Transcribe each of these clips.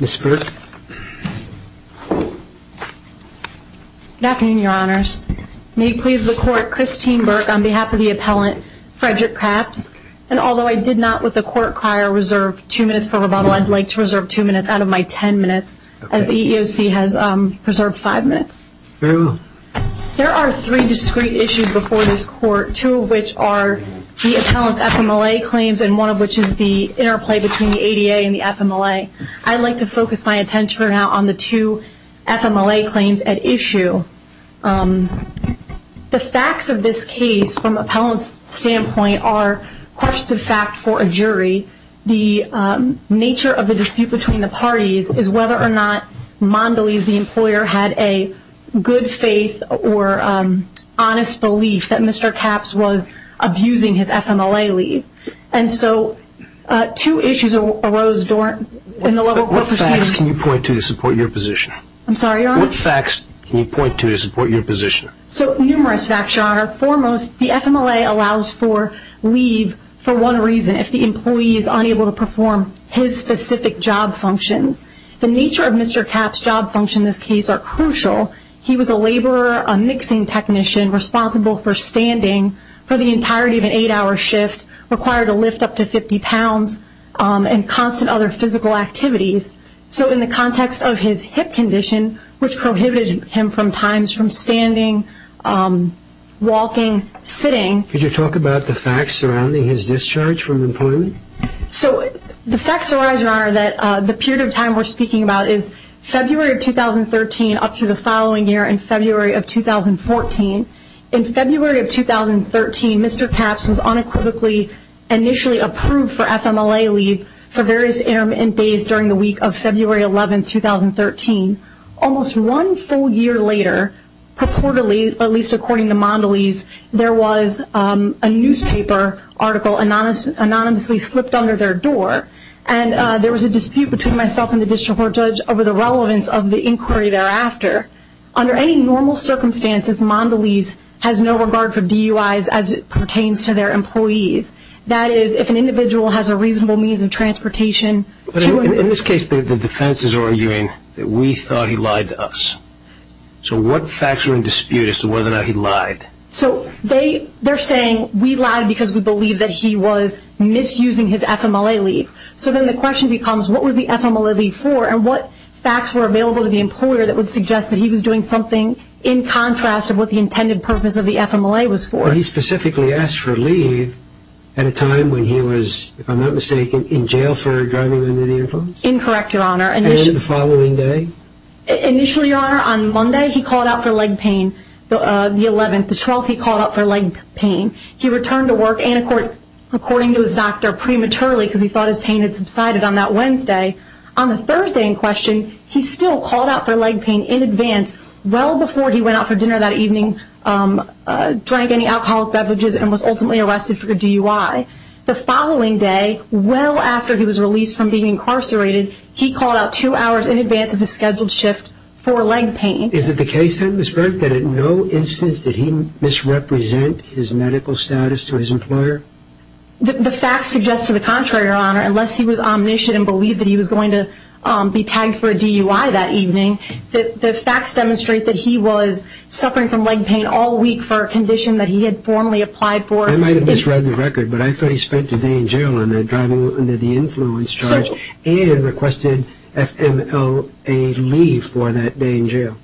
Ms. Burk. Good afternoon, Your Honors. May it please the Court, Christine Burk on behalf of the appellant, Frederick Capps, and although I did not with the court crier reserve two minutes out of my ten minutes as the EEOC has preserved five minutes. There are three discrete issues before this court, two of which are the appellant's FMLA claims and one of which is the interplay between the ADA and the FMLA. I'd like to focus my attention right now on the two FMLA claims at issue. The facts of this case from the appellant's questions of fact for a jury, the nature of the dispute between the parties is whether or not Mondelez, the employer, had a good faith or honest belief that Mr. Capps was abusing his FMLA leave and so two issues arose in the level of court proceedings. What facts can you point to to support your position? I'm sorry, Your Honor? What facts can you point to to support your position? So numerous facts, Your Honor. Foremost, the FMLA allows for leave for one reason, if the employee is unable to perform his specific job functions. The nature of Mr. Capps' job functions in this case are crucial. He was a laborer, a mixing technician, responsible for standing for the entirety of an eight-hour shift, required to lift up to 50 pounds, and constant other physical activities. So in the context of his hip condition, which prohibited him from times from standing, walking, sitting. Could you talk about the facts surrounding his discharge from employment? So the facts arise, Your Honor, that the period of time we're speaking about is February of 2013 up to the following year in February of 2014. In February of 2013, Mr. Capps was unequivocally initially approved for FMLA leave for various intermittent days during the week of February 11, 2013. Almost one full year later, purportedly, at least according to Mondelese, there was a newspaper article anonymously slipped under their door, and there was a dispute between myself and the District Court judge over the relevance of the inquiry thereafter. Under any normal circumstances, Mondelese has no regard for DUIs as it pertains to their employees. That is, if an individual has a reasonable means of transportation to him. In this case, the defense is arguing that we thought he lied to us. So what facts are in dispute as to whether or not he lied? So they're saying we lied because we believe that he was misusing his FMLA leave. So then the question becomes, what was the FMLA leave for, and what facts were available to the employer that would suggest that he was doing something in contrast of what the intended purpose of the FMLA was for? He specifically asked for leave at a time when he was, if I'm not mistaken, in jail for driving under the influence? Incorrect, Your Honor. And the following day? Initially, Your Honor, on Monday, he called out for leg pain, the 11th. The 12th, he called out for leg pain. He returned to work, and according to his doctor, prematurely, because he thought his pain had subsided on that Wednesday. On the Thursday in question, he still called out for leg pain in advance, well before he went out for dinner that evening, drank any alcoholic beverages, and was ultimately arrested for a DUI. The following day, well after he was released from being incarcerated, he called out two hours in advance of his scheduled shift for leg pain. Is it the case then, Ms. Burke, that in no instance did he misrepresent his medical status to his employer? The facts suggest to the contrary, Your Honor. Unless he was omniscient and believed that he was going to be tagged for a DUI that evening, the facts demonstrate that he was suffering from leg pain all week for a condition that he had formally applied for. I might have misread the record, but I thought he spent a day in jail under the influence charge and requested FMOA leave for that day in jail.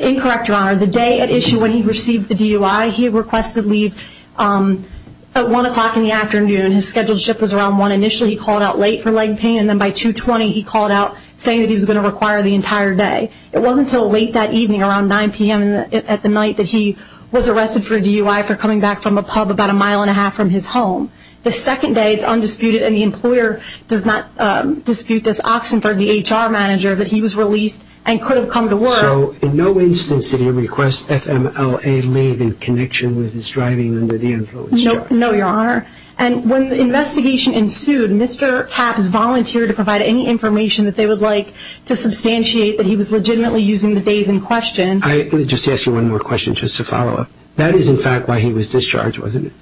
Incorrect, Your Honor. The day at issue when he received the DUI, he requested leave at 1 o'clock in the afternoon. His scheduled shift was around 1 initially. He called out late for leg pain, and then by 2.20, he called out saying that he was going to require the entire day. It wasn't until late that evening around 9 p.m. at the night that he was arrested for a DUI for coming back from a pub about a mile and a half from his home. The second day, it's undisputed, and the employer does not dispute this, Oxenberg, the HR manager, that he was released and could have come to work. So, in no instance did he request FMOA leave in connection with his driving under the influence charge? No, Your Honor. And when the investigation ensued, Mr. Capps volunteered to provide any information that they would like to substantiate that he was legitimately using the days in question. Let me just ask you one more question just to follow up. That is, in fact, why he was discharged, wasn't it?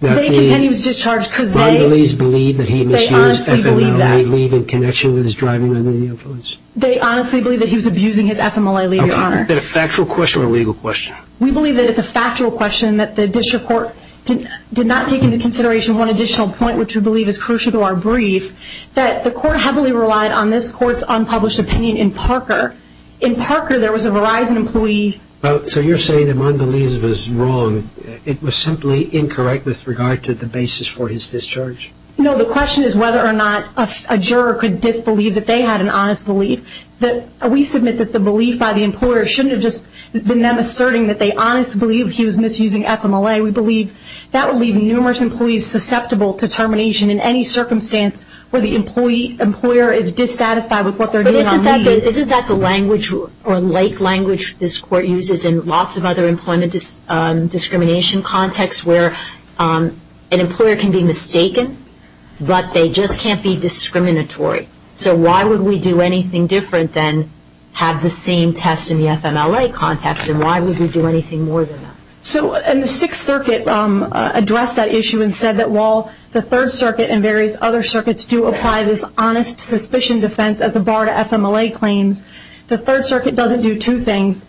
They continue to discharge because they honestly believe that he was abusing his FMOA leave. They honestly believe that he was abusing his FMOA leave, Your Honor. Okay. Is that a factual question or a legal question? We believe that it's a factual question, that the district court did not take into consideration one additional point, which we believe is crucial to our brief, that the court heavily relied on this court's unpublished opinion in Parker. In Parker, there was a Verizon employee. So you're saying that Mondaliz was wrong. It was simply incorrect with regard to the basis for his discharge? No. The question is whether or not a juror could disbelieve that they had an honest belief. We submit that the belief by the employer shouldn't have just been them asserting that they honestly believe he was misusing FMOA. We believe that would leave numerous employees susceptible to termination in any circumstance where the employer is dissatisfied with what they're doing on leave. But isn't that the language or like language this court uses in lots of other employment discrimination contexts where an employer can be mistaken, but they just can't be discriminatory? So why would we do anything different than have the same test in the FMOA context and why would we do anything more than that? So in the Sixth Circuit addressed that issue and said that while the Third Circuit and The Third Circuit doesn't do two things.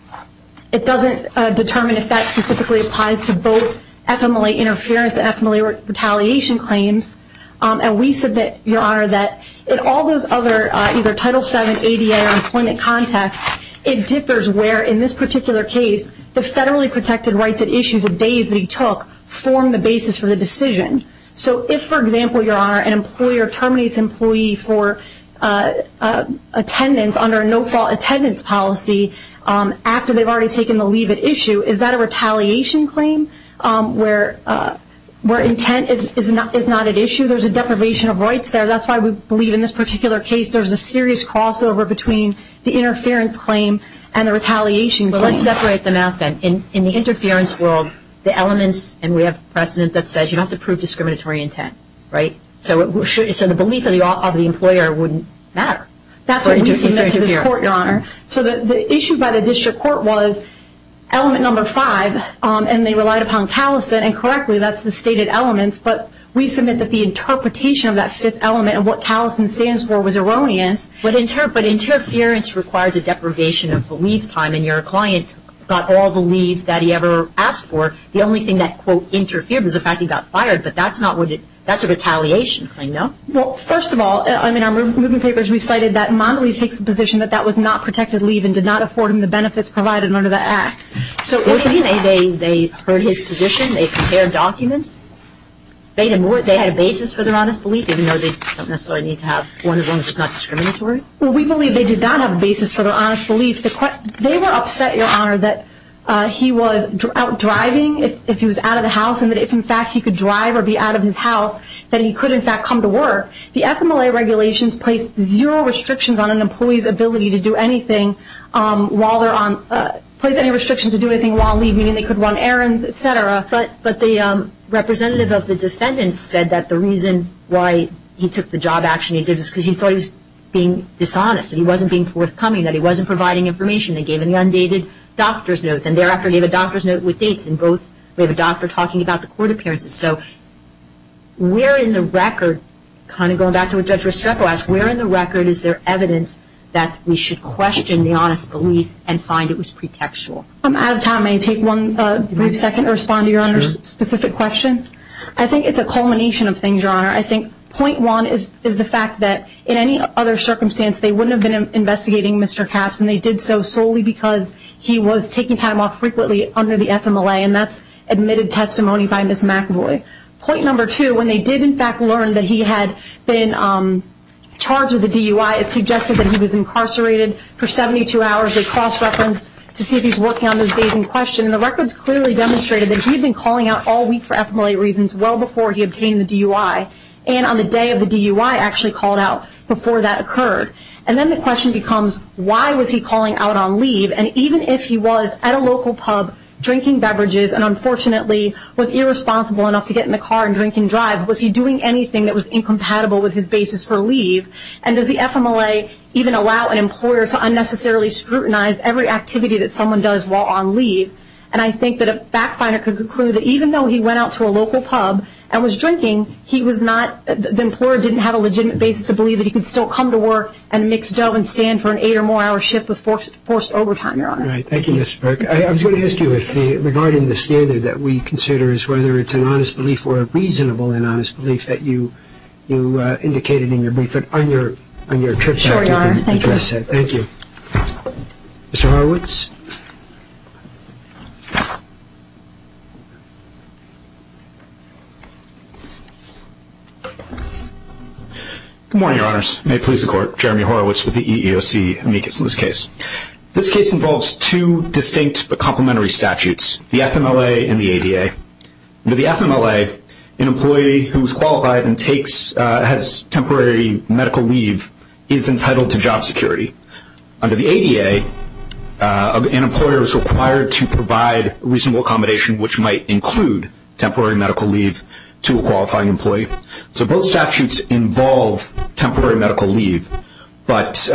It doesn't determine if that specifically applies to both FMOA interference and FMOA retaliation claims. And we submit, Your Honor, that in all those other either Title VII, ADA, or employment contexts, it differs where in this particular case the federally protected rights at issue, the days that he took, form the basis for the decision. So if, for example, Your Honor, an employer terminates an employee for attendance under a no-fault attendance policy after they've already taken the leave at issue, is that a retaliation claim where intent is not at issue? There's a deprivation of rights there. That's why we believe in this particular case there's a serious crossover between the interference claim and the retaliation claim. But let's separate them out then. In the interference world, the elements, and we have precedent that says you don't have to prove discriminatory intent, right? So the belief of the employer wouldn't matter. That's what we submit to this Court, Your Honor. So the issue by the district court was element number five, and they relied upon Callison, and correctly that's the stated elements, but we submit that the interpretation of that fifth element and what Callison stands for was erroneous. But interference requires a deprivation of leave time, and your client got all the leave that he ever asked for. The only thing that, quote, interfered was the fact he got fired, but that's not what it, that's a retaliation claim, no? Well, first of all, I mean, our moving papers recited that Mondelez takes the position that that was not protected leave and did not afford him the benefits provided under the Act. So what do you mean, they heard his position, they prepared documents, they had a basis for their honest belief even though they don't necessarily need to have one as long as it's not discriminatory? Well, we believe they did not have a basis for their honest belief. They were upset, Your Honor, that he was out driving, if he was out of the house, and that if in fact he could drive or be out of his house, that he could in fact come to work. The FMLA regulations place zero restrictions on an employee's ability to do anything while they're on, place any restrictions to do anything while leaving, and they could run errands, et cetera. But the representative of the defendant said that the reason why he took the job action he did was because he thought he was being dishonest, he wasn't being forthcoming, that he wasn't providing information. They gave him the undated doctor's note, and thereafter gave a doctor's note with dates, and both, we have a doctor talking about the court appearances. So where in the record, kind of going back to what Judge Restrepo asked, where in the record is there evidence that we should question the honest belief and find it was pretextual? I'm out of time. May I take one brief second to respond to Your Honor's specific question? I think it's a culmination of things, Your Honor. I think point one is the fact that in any other circumstance they wouldn't have been investigating Mr. Capps, and they did so solely because he was taking time off frequently under the FMLA, and that's admitted testimony by Ms. McAvoy. Point number two, when they did, in fact, learn that he had been charged with a DUI, it's suggested that he was incarcerated for 72 hours. They cross-referenced to see if he's working on those days in question, and the records clearly demonstrated that he'd been calling out all week for FMLA reasons well before he obtained the DUI, and on the day of the DUI actually called out before that occurred. And then the question becomes why was he calling out on leave? And even if he was at a local pub drinking beverages and unfortunately was irresponsible enough to get in the car and drink and drive, was he doing anything that was incompatible with his basis for leave? And does the FMLA even allow an employer to unnecessarily scrutinize every activity that someone does while on leave? And I think that a fact finder could conclude that even though he went out to a didn't have a legitimate basis to believe that he could still come to work and mix dough and stand for an eight or more hour shift with forced overtime, Your Honor. Thank you, Ms. Burke. I was going to ask you regarding the standard that we consider as whether it's an honest belief or a reasonable and honest belief that you indicated in your brief, but on your trip back to the address set, thank you. Good morning, Your Honors. May it please the Court. Jeremy Horowitz with the EEOC amicus in this case. This case involves two distinct but complementary statutes, the FMLA and the ADA. Under the FMLA, an employee who's qualified and takes, has temporary medical leave is entitled to job security. Under the ADA, an employer is required to provide reasonable accommodation, which might include temporary medical leave to a qualifying employee. So both statutes involve temporary medical leave, but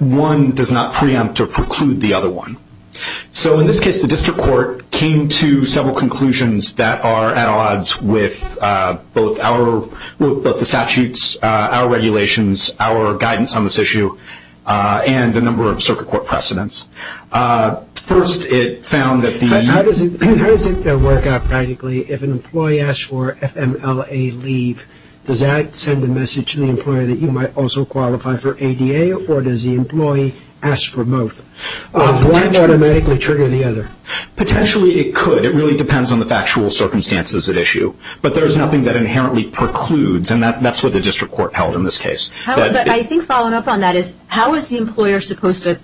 one does not preempt or preclude the other one. So in this case, the district court came to several conclusions that are at odds with both our, both the statutes, our regulations, our guidance on this issue, and a number of circuit court precedents. First, it found that the... How does it work out practically if an employee asks for FMLA leave, does that send a message to the employer that you might also qualify for ADA, or does the employee ask for both? Why automatically trigger the other? Potentially it could. It really depends on the factual circumstances at issue. But there's nothing that inherently precludes, and that's what the district court held in this case. But I think following up on that is, how is the employer supposed to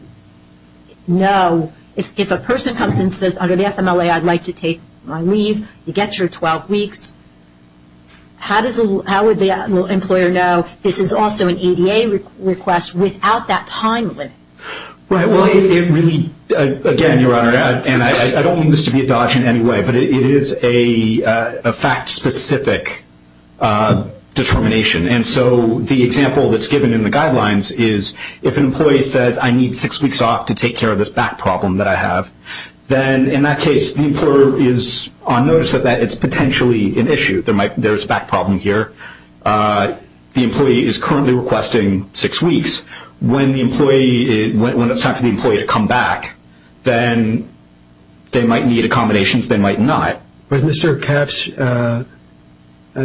know if a person comes and says, under the FMLA, I'd like to take my leave, you get your 12 weeks, how would the employer know this is also an ADA request without that time limit? Right. Well, it really, again, Your Honor, and I don't mean this to be a dodge in any way, but it is a fact-specific determination. And so the example that's given in the guidelines is, if an employee says, I need six weeks off to take care of this back problem that I have, then in that case, the employer is on notice that it's potentially an issue, there's a back problem here. The employee is currently requesting six weeks. When it's time for the employee to come back, then they might need accommodations, they might not. Was Mr. Kef's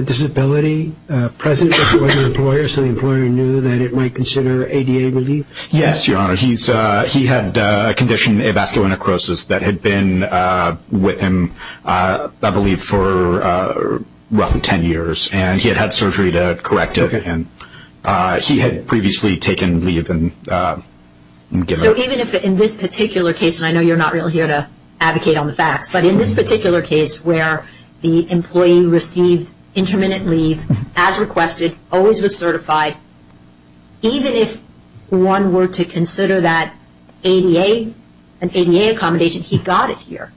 disability present with the employer so the employer knew that it might consider ADA relief? Yes, Your Honor. He had a condition, avascular necrosis, that had been with him, I believe, for roughly 10 years. And he had had surgery to correct it, and he had previously taken leave and given up. So even if, in this particular case, and I know you're not really here to advocate on this, where the employee received intermittent leave, as requested, always was certified, even if one were to consider that ADA, an ADA accommodation, he got it here.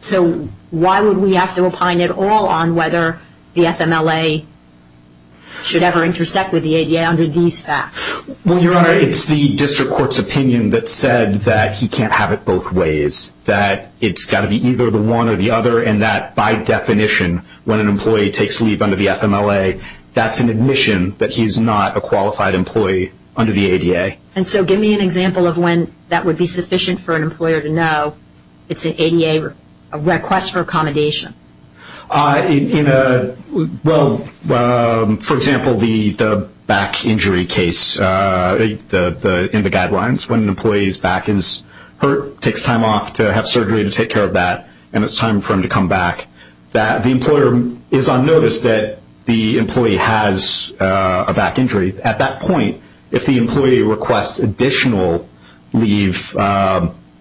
So why would we have to opine at all on whether the FMLA should ever intersect with the ADA under these facts? Well, Your Honor, it's the district court's opinion that said that he can't have it both ways, that it's got to be either the one or the other, and that, by definition, when an employee takes leave under the FMLA, that's an admission that he's not a qualified employee under the ADA. And so give me an example of when that would be sufficient for an employer to know it's an ADA request for accommodation. In a, well, for example, the back injury case, in the guidelines, when an employee's back is hurt, takes time off to have surgery to take care of that, and it's time for him to come back, the employer is on notice that the employee has a back injury. At that point, if the employee requests additional leave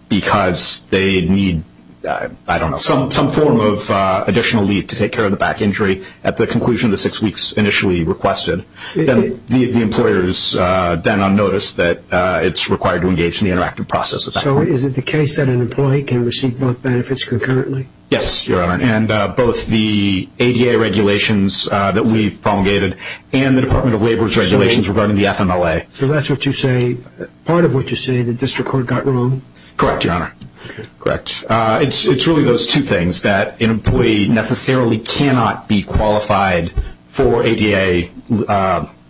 because they need, I don't know, some form of additional leave to take care of the back injury at the conclusion of the six weeks initially requested, then the employer is then on notice that it's required to engage in the interactive process at that point. So is it the case that an employee can receive both benefits concurrently? Yes, Your Honor, and both the ADA regulations that we've promulgated and the Department of Labor's regulations regarding the FMLA. So that's what you say, part of what you say, the district court got wrong? Correct, Your Honor. Okay. Correct. It's really those two things, that an employee necessarily cannot be qualified for ADA.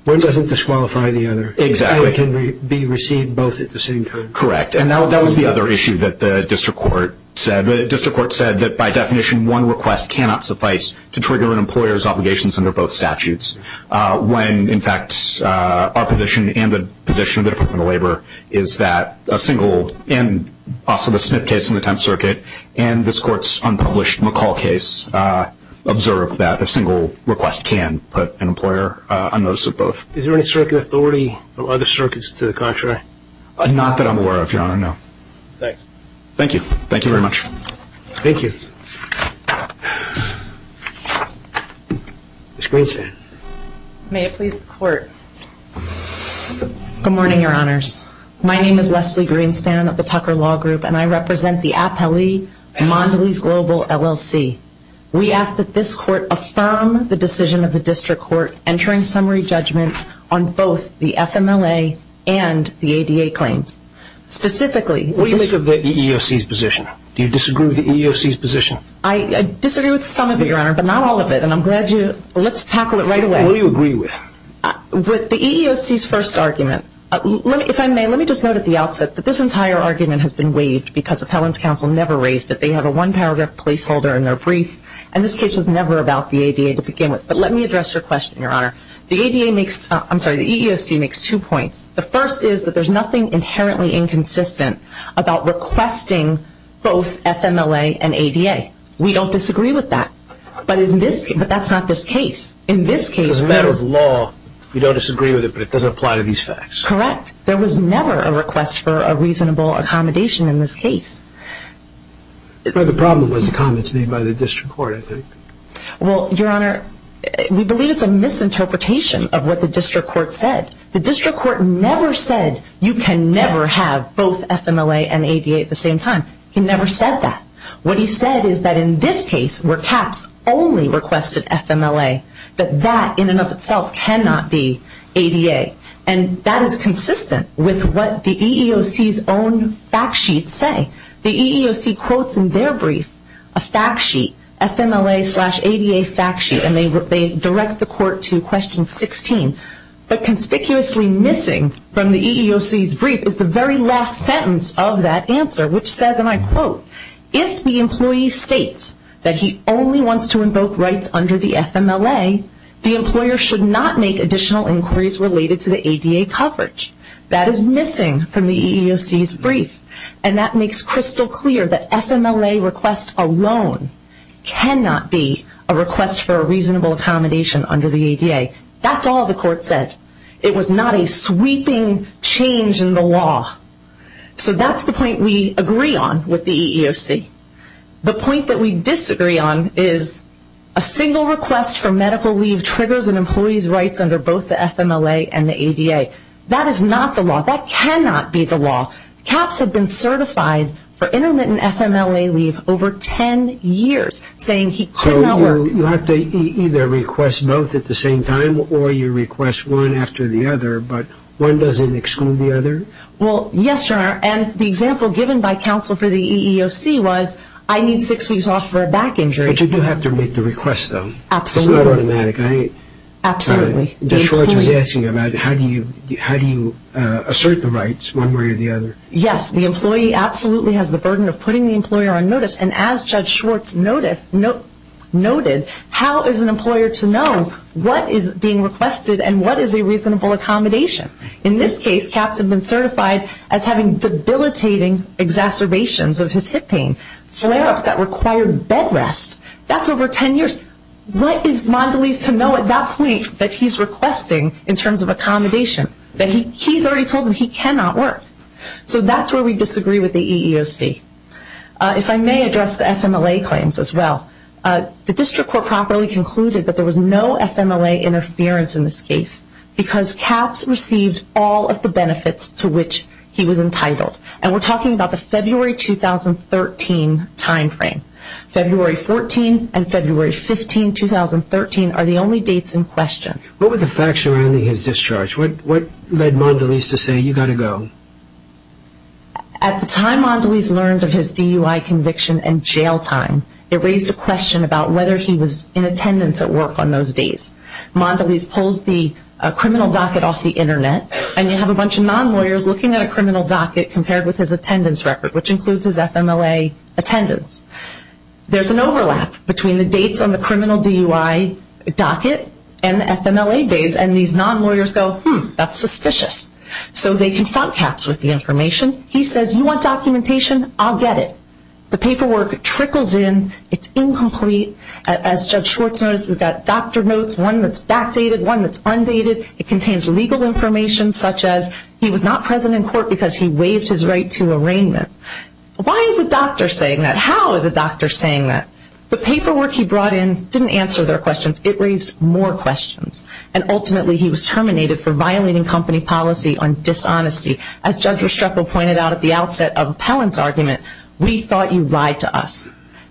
One doesn't disqualify the other. Exactly. And can be received both at the same time. Correct. And that was the other issue that the district court said. The district court said that by definition, one request cannot suffice to trigger an employer's obligations under both statutes. When, in fact, our position and the position of the Department of Labor is that a single, and also the Smith case in the Tenth Circuit, and this Court's unpublished McCall case, observed that a single request can put an employer on notice of both. Is there any circuit authority from other circuits to the contrary? Not that I'm aware of, Your Honor, no. Thank you. Thank you. Thank you very much. Thank you. Ms. Greenspan. May it please the Court. Good morning, Your Honors. My name is Leslie Greenspan of the Tucker Law Group, and I represent the Appellee Mondelez Global LLC. We ask that this Court affirm the decision of the district court entering summary judgment on both the FMLA and the ADA claims. Specifically, the What do you make of the EEOC's position? Do you disagree with the EEOC's position? I disagree with some of it, Your Honor, but not all of it, and I'm glad you... Let's tackle it right away. What do you agree with? With the EEOC's first argument. If I may, let me just note at the outset that this entire argument has been waived because Appellant's Counsel never raised it. They have a one-paragraph placeholder in their brief, and this case was never about the ADA to begin with. But let me address your question, Your Honor. The EEOC makes two points. The first is that there's nothing inherently inconsistent about requesting both FMLA and ADA. We don't disagree with that, but that's not this case. In this case... Because as a matter of law, you don't disagree with it, but it doesn't apply to these facts. Correct. There was never a request for a reasonable accommodation in this case. The problem was the comments made by the district court, I think. Well, Your Honor, we believe it's a misinterpretation of what the district court said. The district court never said you can never have both FMLA and ADA at the same time. He never said that. What he said is that in this case, where CAPS only requested FMLA, that that in and of itself cannot be ADA. And that is consistent with what the EEOC's own fact sheets say. The EEOC quotes in their brief a fact sheet, FMLA slash ADA fact sheet, and they direct the court to question 16. But conspicuously missing from the EEOC's brief is the very last sentence of that answer, which says, and I quote, if the employee states that he only wants to invoke rights under the FMLA, the employer should not make additional inquiries related to the ADA coverage. That is missing from the EEOC's brief. And that makes crystal clear that FMLA request alone cannot be a request for a reasonable accommodation under the ADA. That's all the court said. It was not a sweeping change in the law. So that's the point we agree on with the EEOC. The point that we disagree on is a single request for medical leave triggers an employee's rights under both the FMLA and the ADA. That is not the over 10 years, saying he cannot work. So you have to either request both at the same time, or you request one after the other, but one doesn't exclude the other? Well, yes, Your Honor. And the example given by counsel for the EEOC was, I need six weeks off for a back injury. But you do have to make the request, though. Absolutely. It's not automatic. Absolutely. Judge Schwartz was asking about how do you assert the rights one way or the other. Yes, the employee absolutely has the burden of putting the employer on notice. And as Judge Schwartz noted, how is an employer to know what is being requested and what is a reasonable accommodation? In this case, Capps had been certified as having debilitating exacerbations of his hip pain, flare-ups that required bed rest. That's over 10 years. What is Mondelez to know at that point that he's requesting in terms of accommodation? That he's already told him he cannot work. So that's where we disagree with the EEOC. If I may address the FMLA claims as well, the district court properly concluded that there was no FMLA interference in this case because Capps received all of the benefits to which he was entitled. And we're talking about the February 2013 timeframe. February 14 and February 15, 2013 are the only dates in question. What were the facts surrounding his discharge? What led Mondelez to say, you've got to go? At the time Mondelez learned of his DUI conviction and jail time, it raised a question about whether he was in attendance at work on those days. Mondelez pulls the criminal docket off the internet and you have a bunch of non-lawyers looking at a criminal docket compared with his attendance record, which includes his FMLA attendance. There's an overlap between the dates on the criminal DUI docket and the FMLA days and these non-lawyers go, hmm, that's suspicious. So they confront Capps with the information. He says, you want documentation? I'll get it. The paperwork trickles in. It's incomplete. As Judge Schwartz noticed, we've got doctor notes, one that's backdated, one that's undated. It contains legal information such as he was not present in court because he waived his right to arraignment. Why is a doctor saying that? How is a doctor saying that? The paperwork he brought in didn't answer their questions. It raised more questions. And ultimately he was terminated for violating company policy on dishonesty. As Judge Restrepo pointed out at the outset of Appellant's argument, we thought you lied to us.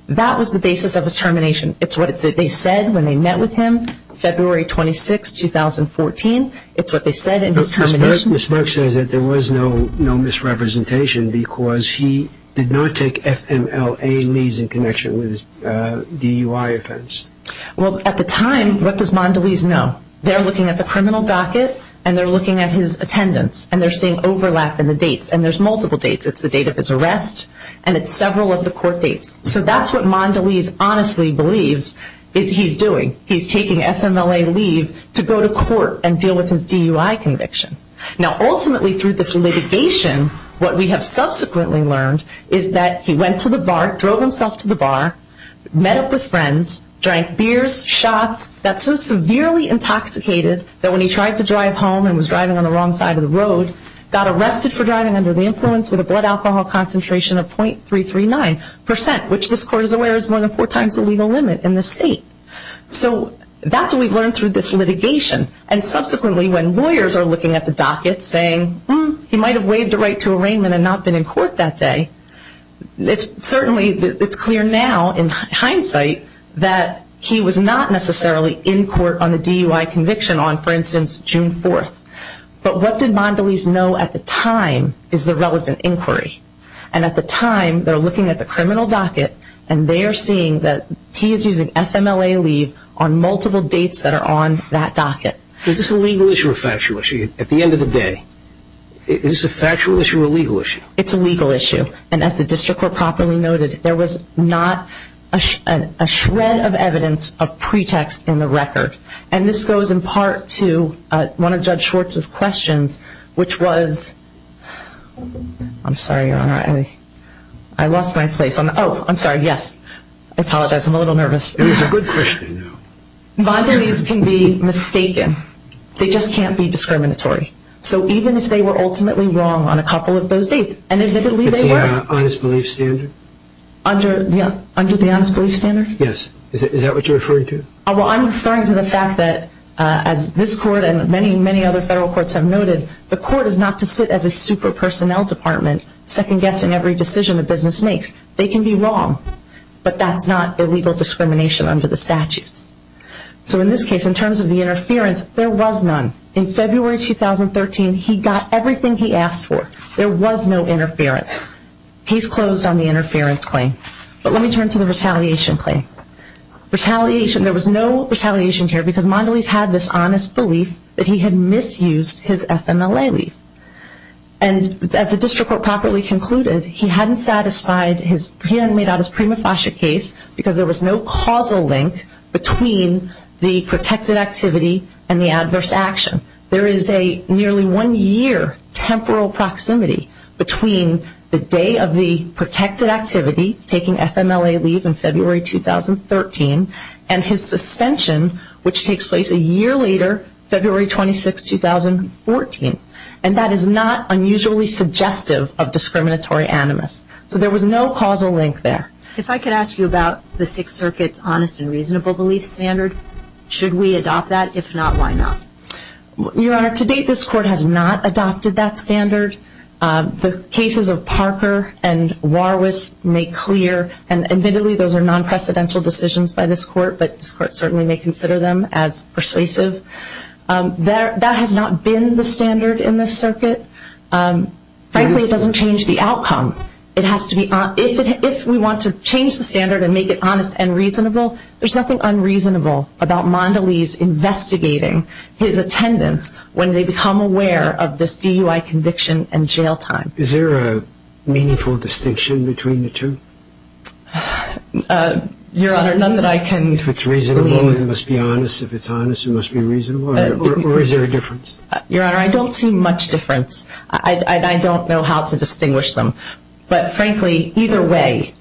That was the basis of his termination. It's what they said when they met with him, February 26, 2014. It's what they said in his termination. Ms. Burke says that there was no misrepresentation because he did not take FMLA leaves in connection with his DUI offense. Well, at the time, what does Mondelez know? They're looking at the criminal docket and they're looking at his attendance and they're seeing overlap in the dates. And there's multiple dates. It's the date of his arrest and it's several of the court dates. So that's what Mondelez honestly believes is he's doing. He's taking FMLA leave to go to court and now ultimately through this litigation, what we have subsequently learned is that he went to the bar, drove himself to the bar, met up with friends, drank beers, shots, got so severely intoxicated that when he tried to drive home and was driving on the wrong side of the road, got arrested for driving under the influence with a blood alcohol concentration of .339%, which this court is aware is more than four times the legal limit in this state. So that's what we've learned through this litigation. And subsequently when lawyers are looking at the docket saying, hmm, he might have waived the right to arraignment and not been in court that day, it's certainly clear now in hindsight that he was not necessarily in court on the DUI conviction on, for instance, June 4th. But what did Mondelez know at the time is the relevant inquiry. And at the time, they're looking at the criminal docket and they are seeing that he is using FMLA leave on multiple dates that are on that docket. Is this a legal issue or a factual issue? At the end of the day, is this a factual issue or a legal issue? It's a legal issue. And as the district court properly noted, there was not a shred of evidence of pretext in the record. And this goes in part to one of Judge Schwartz's questions, which was, I'm sorry, Your Honor, I lost my place. Oh, I'm sorry, yes. I apologize, I'm a little nervous. It is a good question. Mondelez can be mistaken. They just can't be discriminatory. So even if they were ultimately wrong on a couple of those dates, and admittedly they were. It's the honest belief standard? Under the honest belief standard? Yes. Is that what you're referring to? Well, I'm referring to the fact that, as this court and many, many other federal courts have noted, the court is not to sit as a super personnel department, second guessing every decision a business makes. They can be wrong, but that's not illegal discrimination under the statutes. So in this case, in terms of the interference, there was none. In February 2013, he got everything he asked for. There was no interference. Case closed on the interference claim. But let me turn to the retaliation claim. Retaliation, there was no retaliation here because Mondelez had this honest belief that he had misused his FMLA leave. And as the district court properly concluded, he hadn't satisfied his, he hadn't made out his prima facie case because there was no causal link between the protected activity and the adverse action. There is a nearly one-year temporal proximity between the day of the protected activity, taking FMLA leave in February 2013, and his suspension, which takes place a year later, February 26, 2014. And that is not unusually suggestive of discriminatory animus. So there was no causal link there. If I could ask you about the Sixth Circuit's honest and reasonable belief standard, should we adopt that? If not, why not? Your Honor, to date, this court has not adopted that standard. The cases of Parker and Warwiss make clear, and admittedly, those are non-precedential decisions by this court, but this court certainly may consider them as persuasive. That has not been the standard in this circuit. Frankly, it doesn't change the outcome. It has to be, if we want to change the standard and make it honest and reasonable, there's nothing unreasonable about Mondelez investigating his attendance when they become aware of this DUI conviction and jail time. Is there a meaningful distinction between the two? Your Honor, none that I can... If it's reasonable, then it must be honest. If it's honest, it must be reasonable. Or is there a difference? Your Honor, I don't see much difference. I don't know how to distinguish them. But frankly, either way,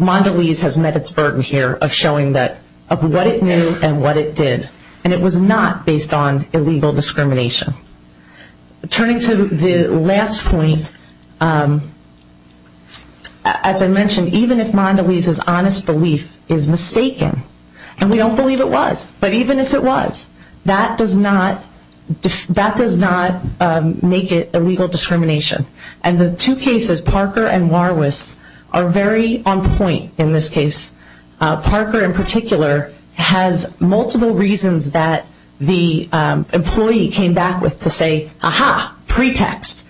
Mondelez has met its burden here of showing that, of what it knew and what it did. And it was not based on illegal discrimination. Turning to the last point, as I mentioned, even if Mondelez's honest belief is mistaken, and we don't believe it was, but even if it was, that does not make it illegal discrimination. And the two cases, Parker and Warwiss, are very on point in this case. Parker, in particular, has multiple reasons that the employee came back with to say, aha, pretext.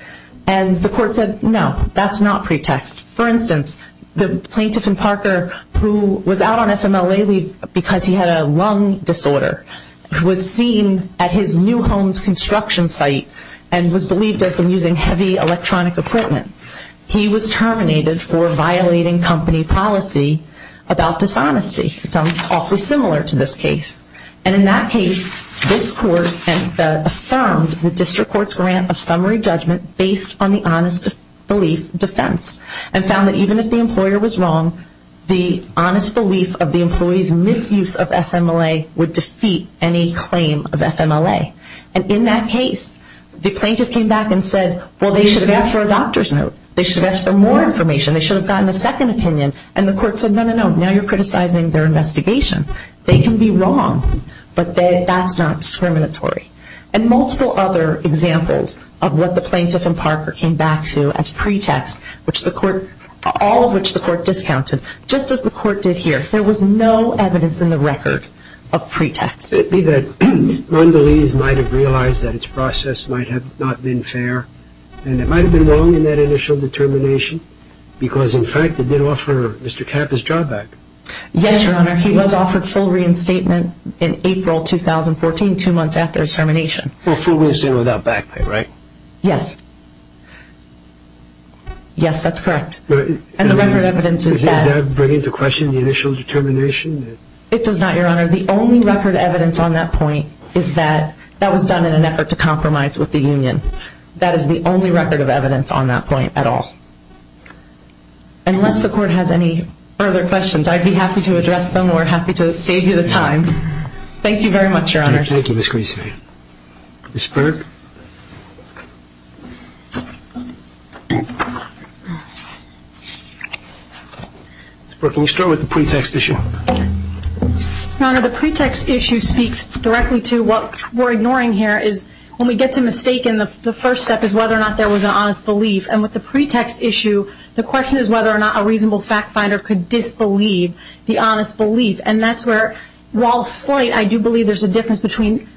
And the court said, no, that's not pretext. For instance, the plaintiff in Parker, who was out on FMLA leave because he had a lung disorder, was seen at his new home's construction site and was believed to have been using heavy electronic equipment. He was terminated for violating company policy about dishonesty. It's awfully similar to this case. And in that case, this court affirmed the district court's grant of summary judgment based on the honest belief defense and found that even if the employer was wrong, the honest belief of the employee's misuse of FMLA would defeat any claim of FMLA. And in that case, the plaintiff came back and said, well, they should have asked for a doctor's note. They should have asked for more information. They should have gotten a second opinion. And the court said, no, no, no. Now you're criticizing their investigation. They can be wrong, but that's not discriminatory. And multiple other examples of what the plaintiff in Parker came back to as pretext, which the court, all of which the court discounted, just as the court did here, there was no evidence in the record of pretext. It would be that Mondelez might have realized that its process might have not been fair, and it was the only record of evidence on that point. And then you're going to ask me, so why did the district court not offer a full reinstatement? Because in fact, it did offer Mr. Kappa's job back. Yes, Your Honor, he was offered full reinstatement in April 2014, two months after his termination. Well, full reinstatement without back pay, right? Yes. Yes, that's correct. And the record evidence is that. Is that bringing into question the initial determination? It does not, Your Honor. The only record evidence on that point is that that was done in an effort to compromise with the union. That is the only record of evidence on that point at all. Unless the court has any further questions, I'd be happy to address them or happy to save you the time. Thank you very much, Your Honors. Thank you, Ms. Grissom. Ms. Burke? Ms. Burke, can you start with the pretext issue? Your Honor, the pretext issue speaks directly to what we're ignoring here is when we get to mistaken, the first step is whether or not there was an honest belief. And with the pretext issue, the question is whether or not a reasonable fact finder could disbelieve the honest belief. And that's where, while slight, I do believe there's a difference between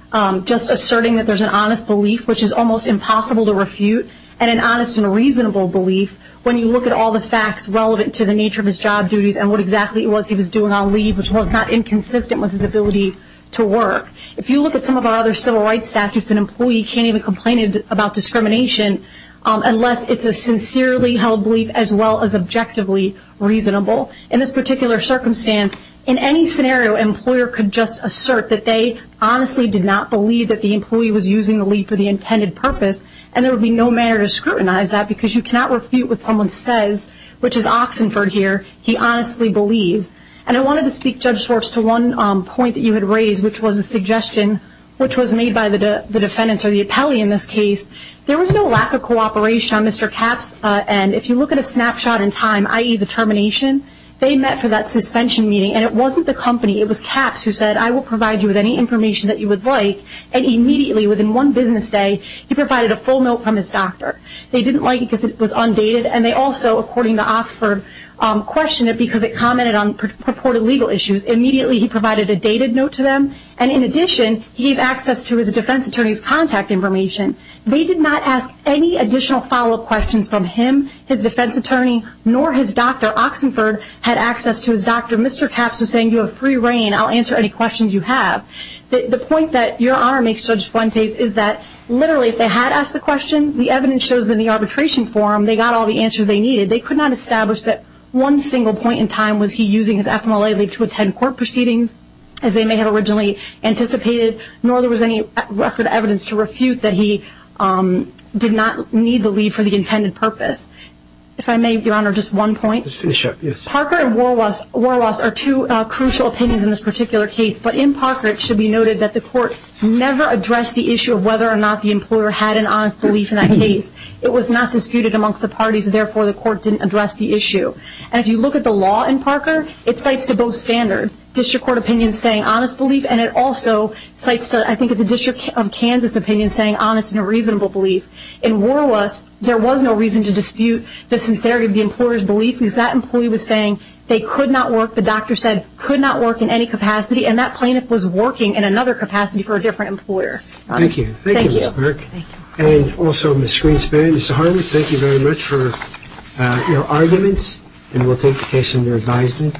just asserting that there's an honest belief which is almost impossible to refute and an honest and reasonable belief when you look at all the facts relevant to the nature of his job duties and what exactly it was he was doing on leave which was not inconsistent with his ability to work. If you look at some of our other civil rights statutes, an employee can't even complain about discrimination unless it's a sincerely held belief as well as objectively reasonable. In this particular circumstance, in any scenario, an employer could just assert that they honestly did not believe that the employee was using the leave for the intended purpose. And there would be no manner to scrutinize that because you cannot refute what someone says, which is oxenford here, he honestly believes. And I wanted to speak, Judge Schwartz, to one point that you had raised which was a suggestion which was made by the defendant or the appellee in this case. There was no lack of cooperation on Mr. Capp's end. If you look at a snapshot in time, i.e. the termination, they met for that suspension meeting and it wasn't the company. It was Capps who said, I will provide you with any information that you would like. And immediately within one business day, he provided a full note from his doctor. They didn't like it because it was undated and they also, according to Oxford, questioned it because it commented on purported legal issues. Immediately he provided a dated note to them. And in addition, he gave access to his defense attorney's contact information. They did not ask any additional follow-up questions from him, his defense attorney, nor his doctor, Oxenford, had access to his doctor. Mr. Capps was saying, you have free reign. I'll answer any questions you have. The point that Your Honor makes, Judge Schwartz, is that literally if they had asked the questions, the evidence shows in the arbitration forum they got all the answers they needed. They could not establish that one single point in time was he using his FMLA leave to attend court proceedings, as they may have originally anticipated, nor there was any record evidence to refute that he did not need the leave for the intended purpose. If I may, Your Honor, just one point. Parker and Warwas are two crucial opinions in this particular case, but in Parker it should be noted that the court never addressed the issue of whether or not the employer had an honest belief in that case. It was not disputed amongst the parties, and therefore the court didn't address the issue. And if you look at the law in Parker, it cites to both standards district court opinions saying honest belief, and it also cites, I think, the District of Kansas opinion saying honest and reasonable belief. In Warwas, there was no reason to dispute the sincerity of the employer's belief, because that employee was saying they could not work, the doctor said could not work in any capacity, and that plaintiff was working in another capacity for a different employer. Thank you. Thank you, Ms. Burke. Thank you. And also, Ms. Greenspan, Mr. Harmon, thank you very much for your arguments, and we'll take the case under advisement.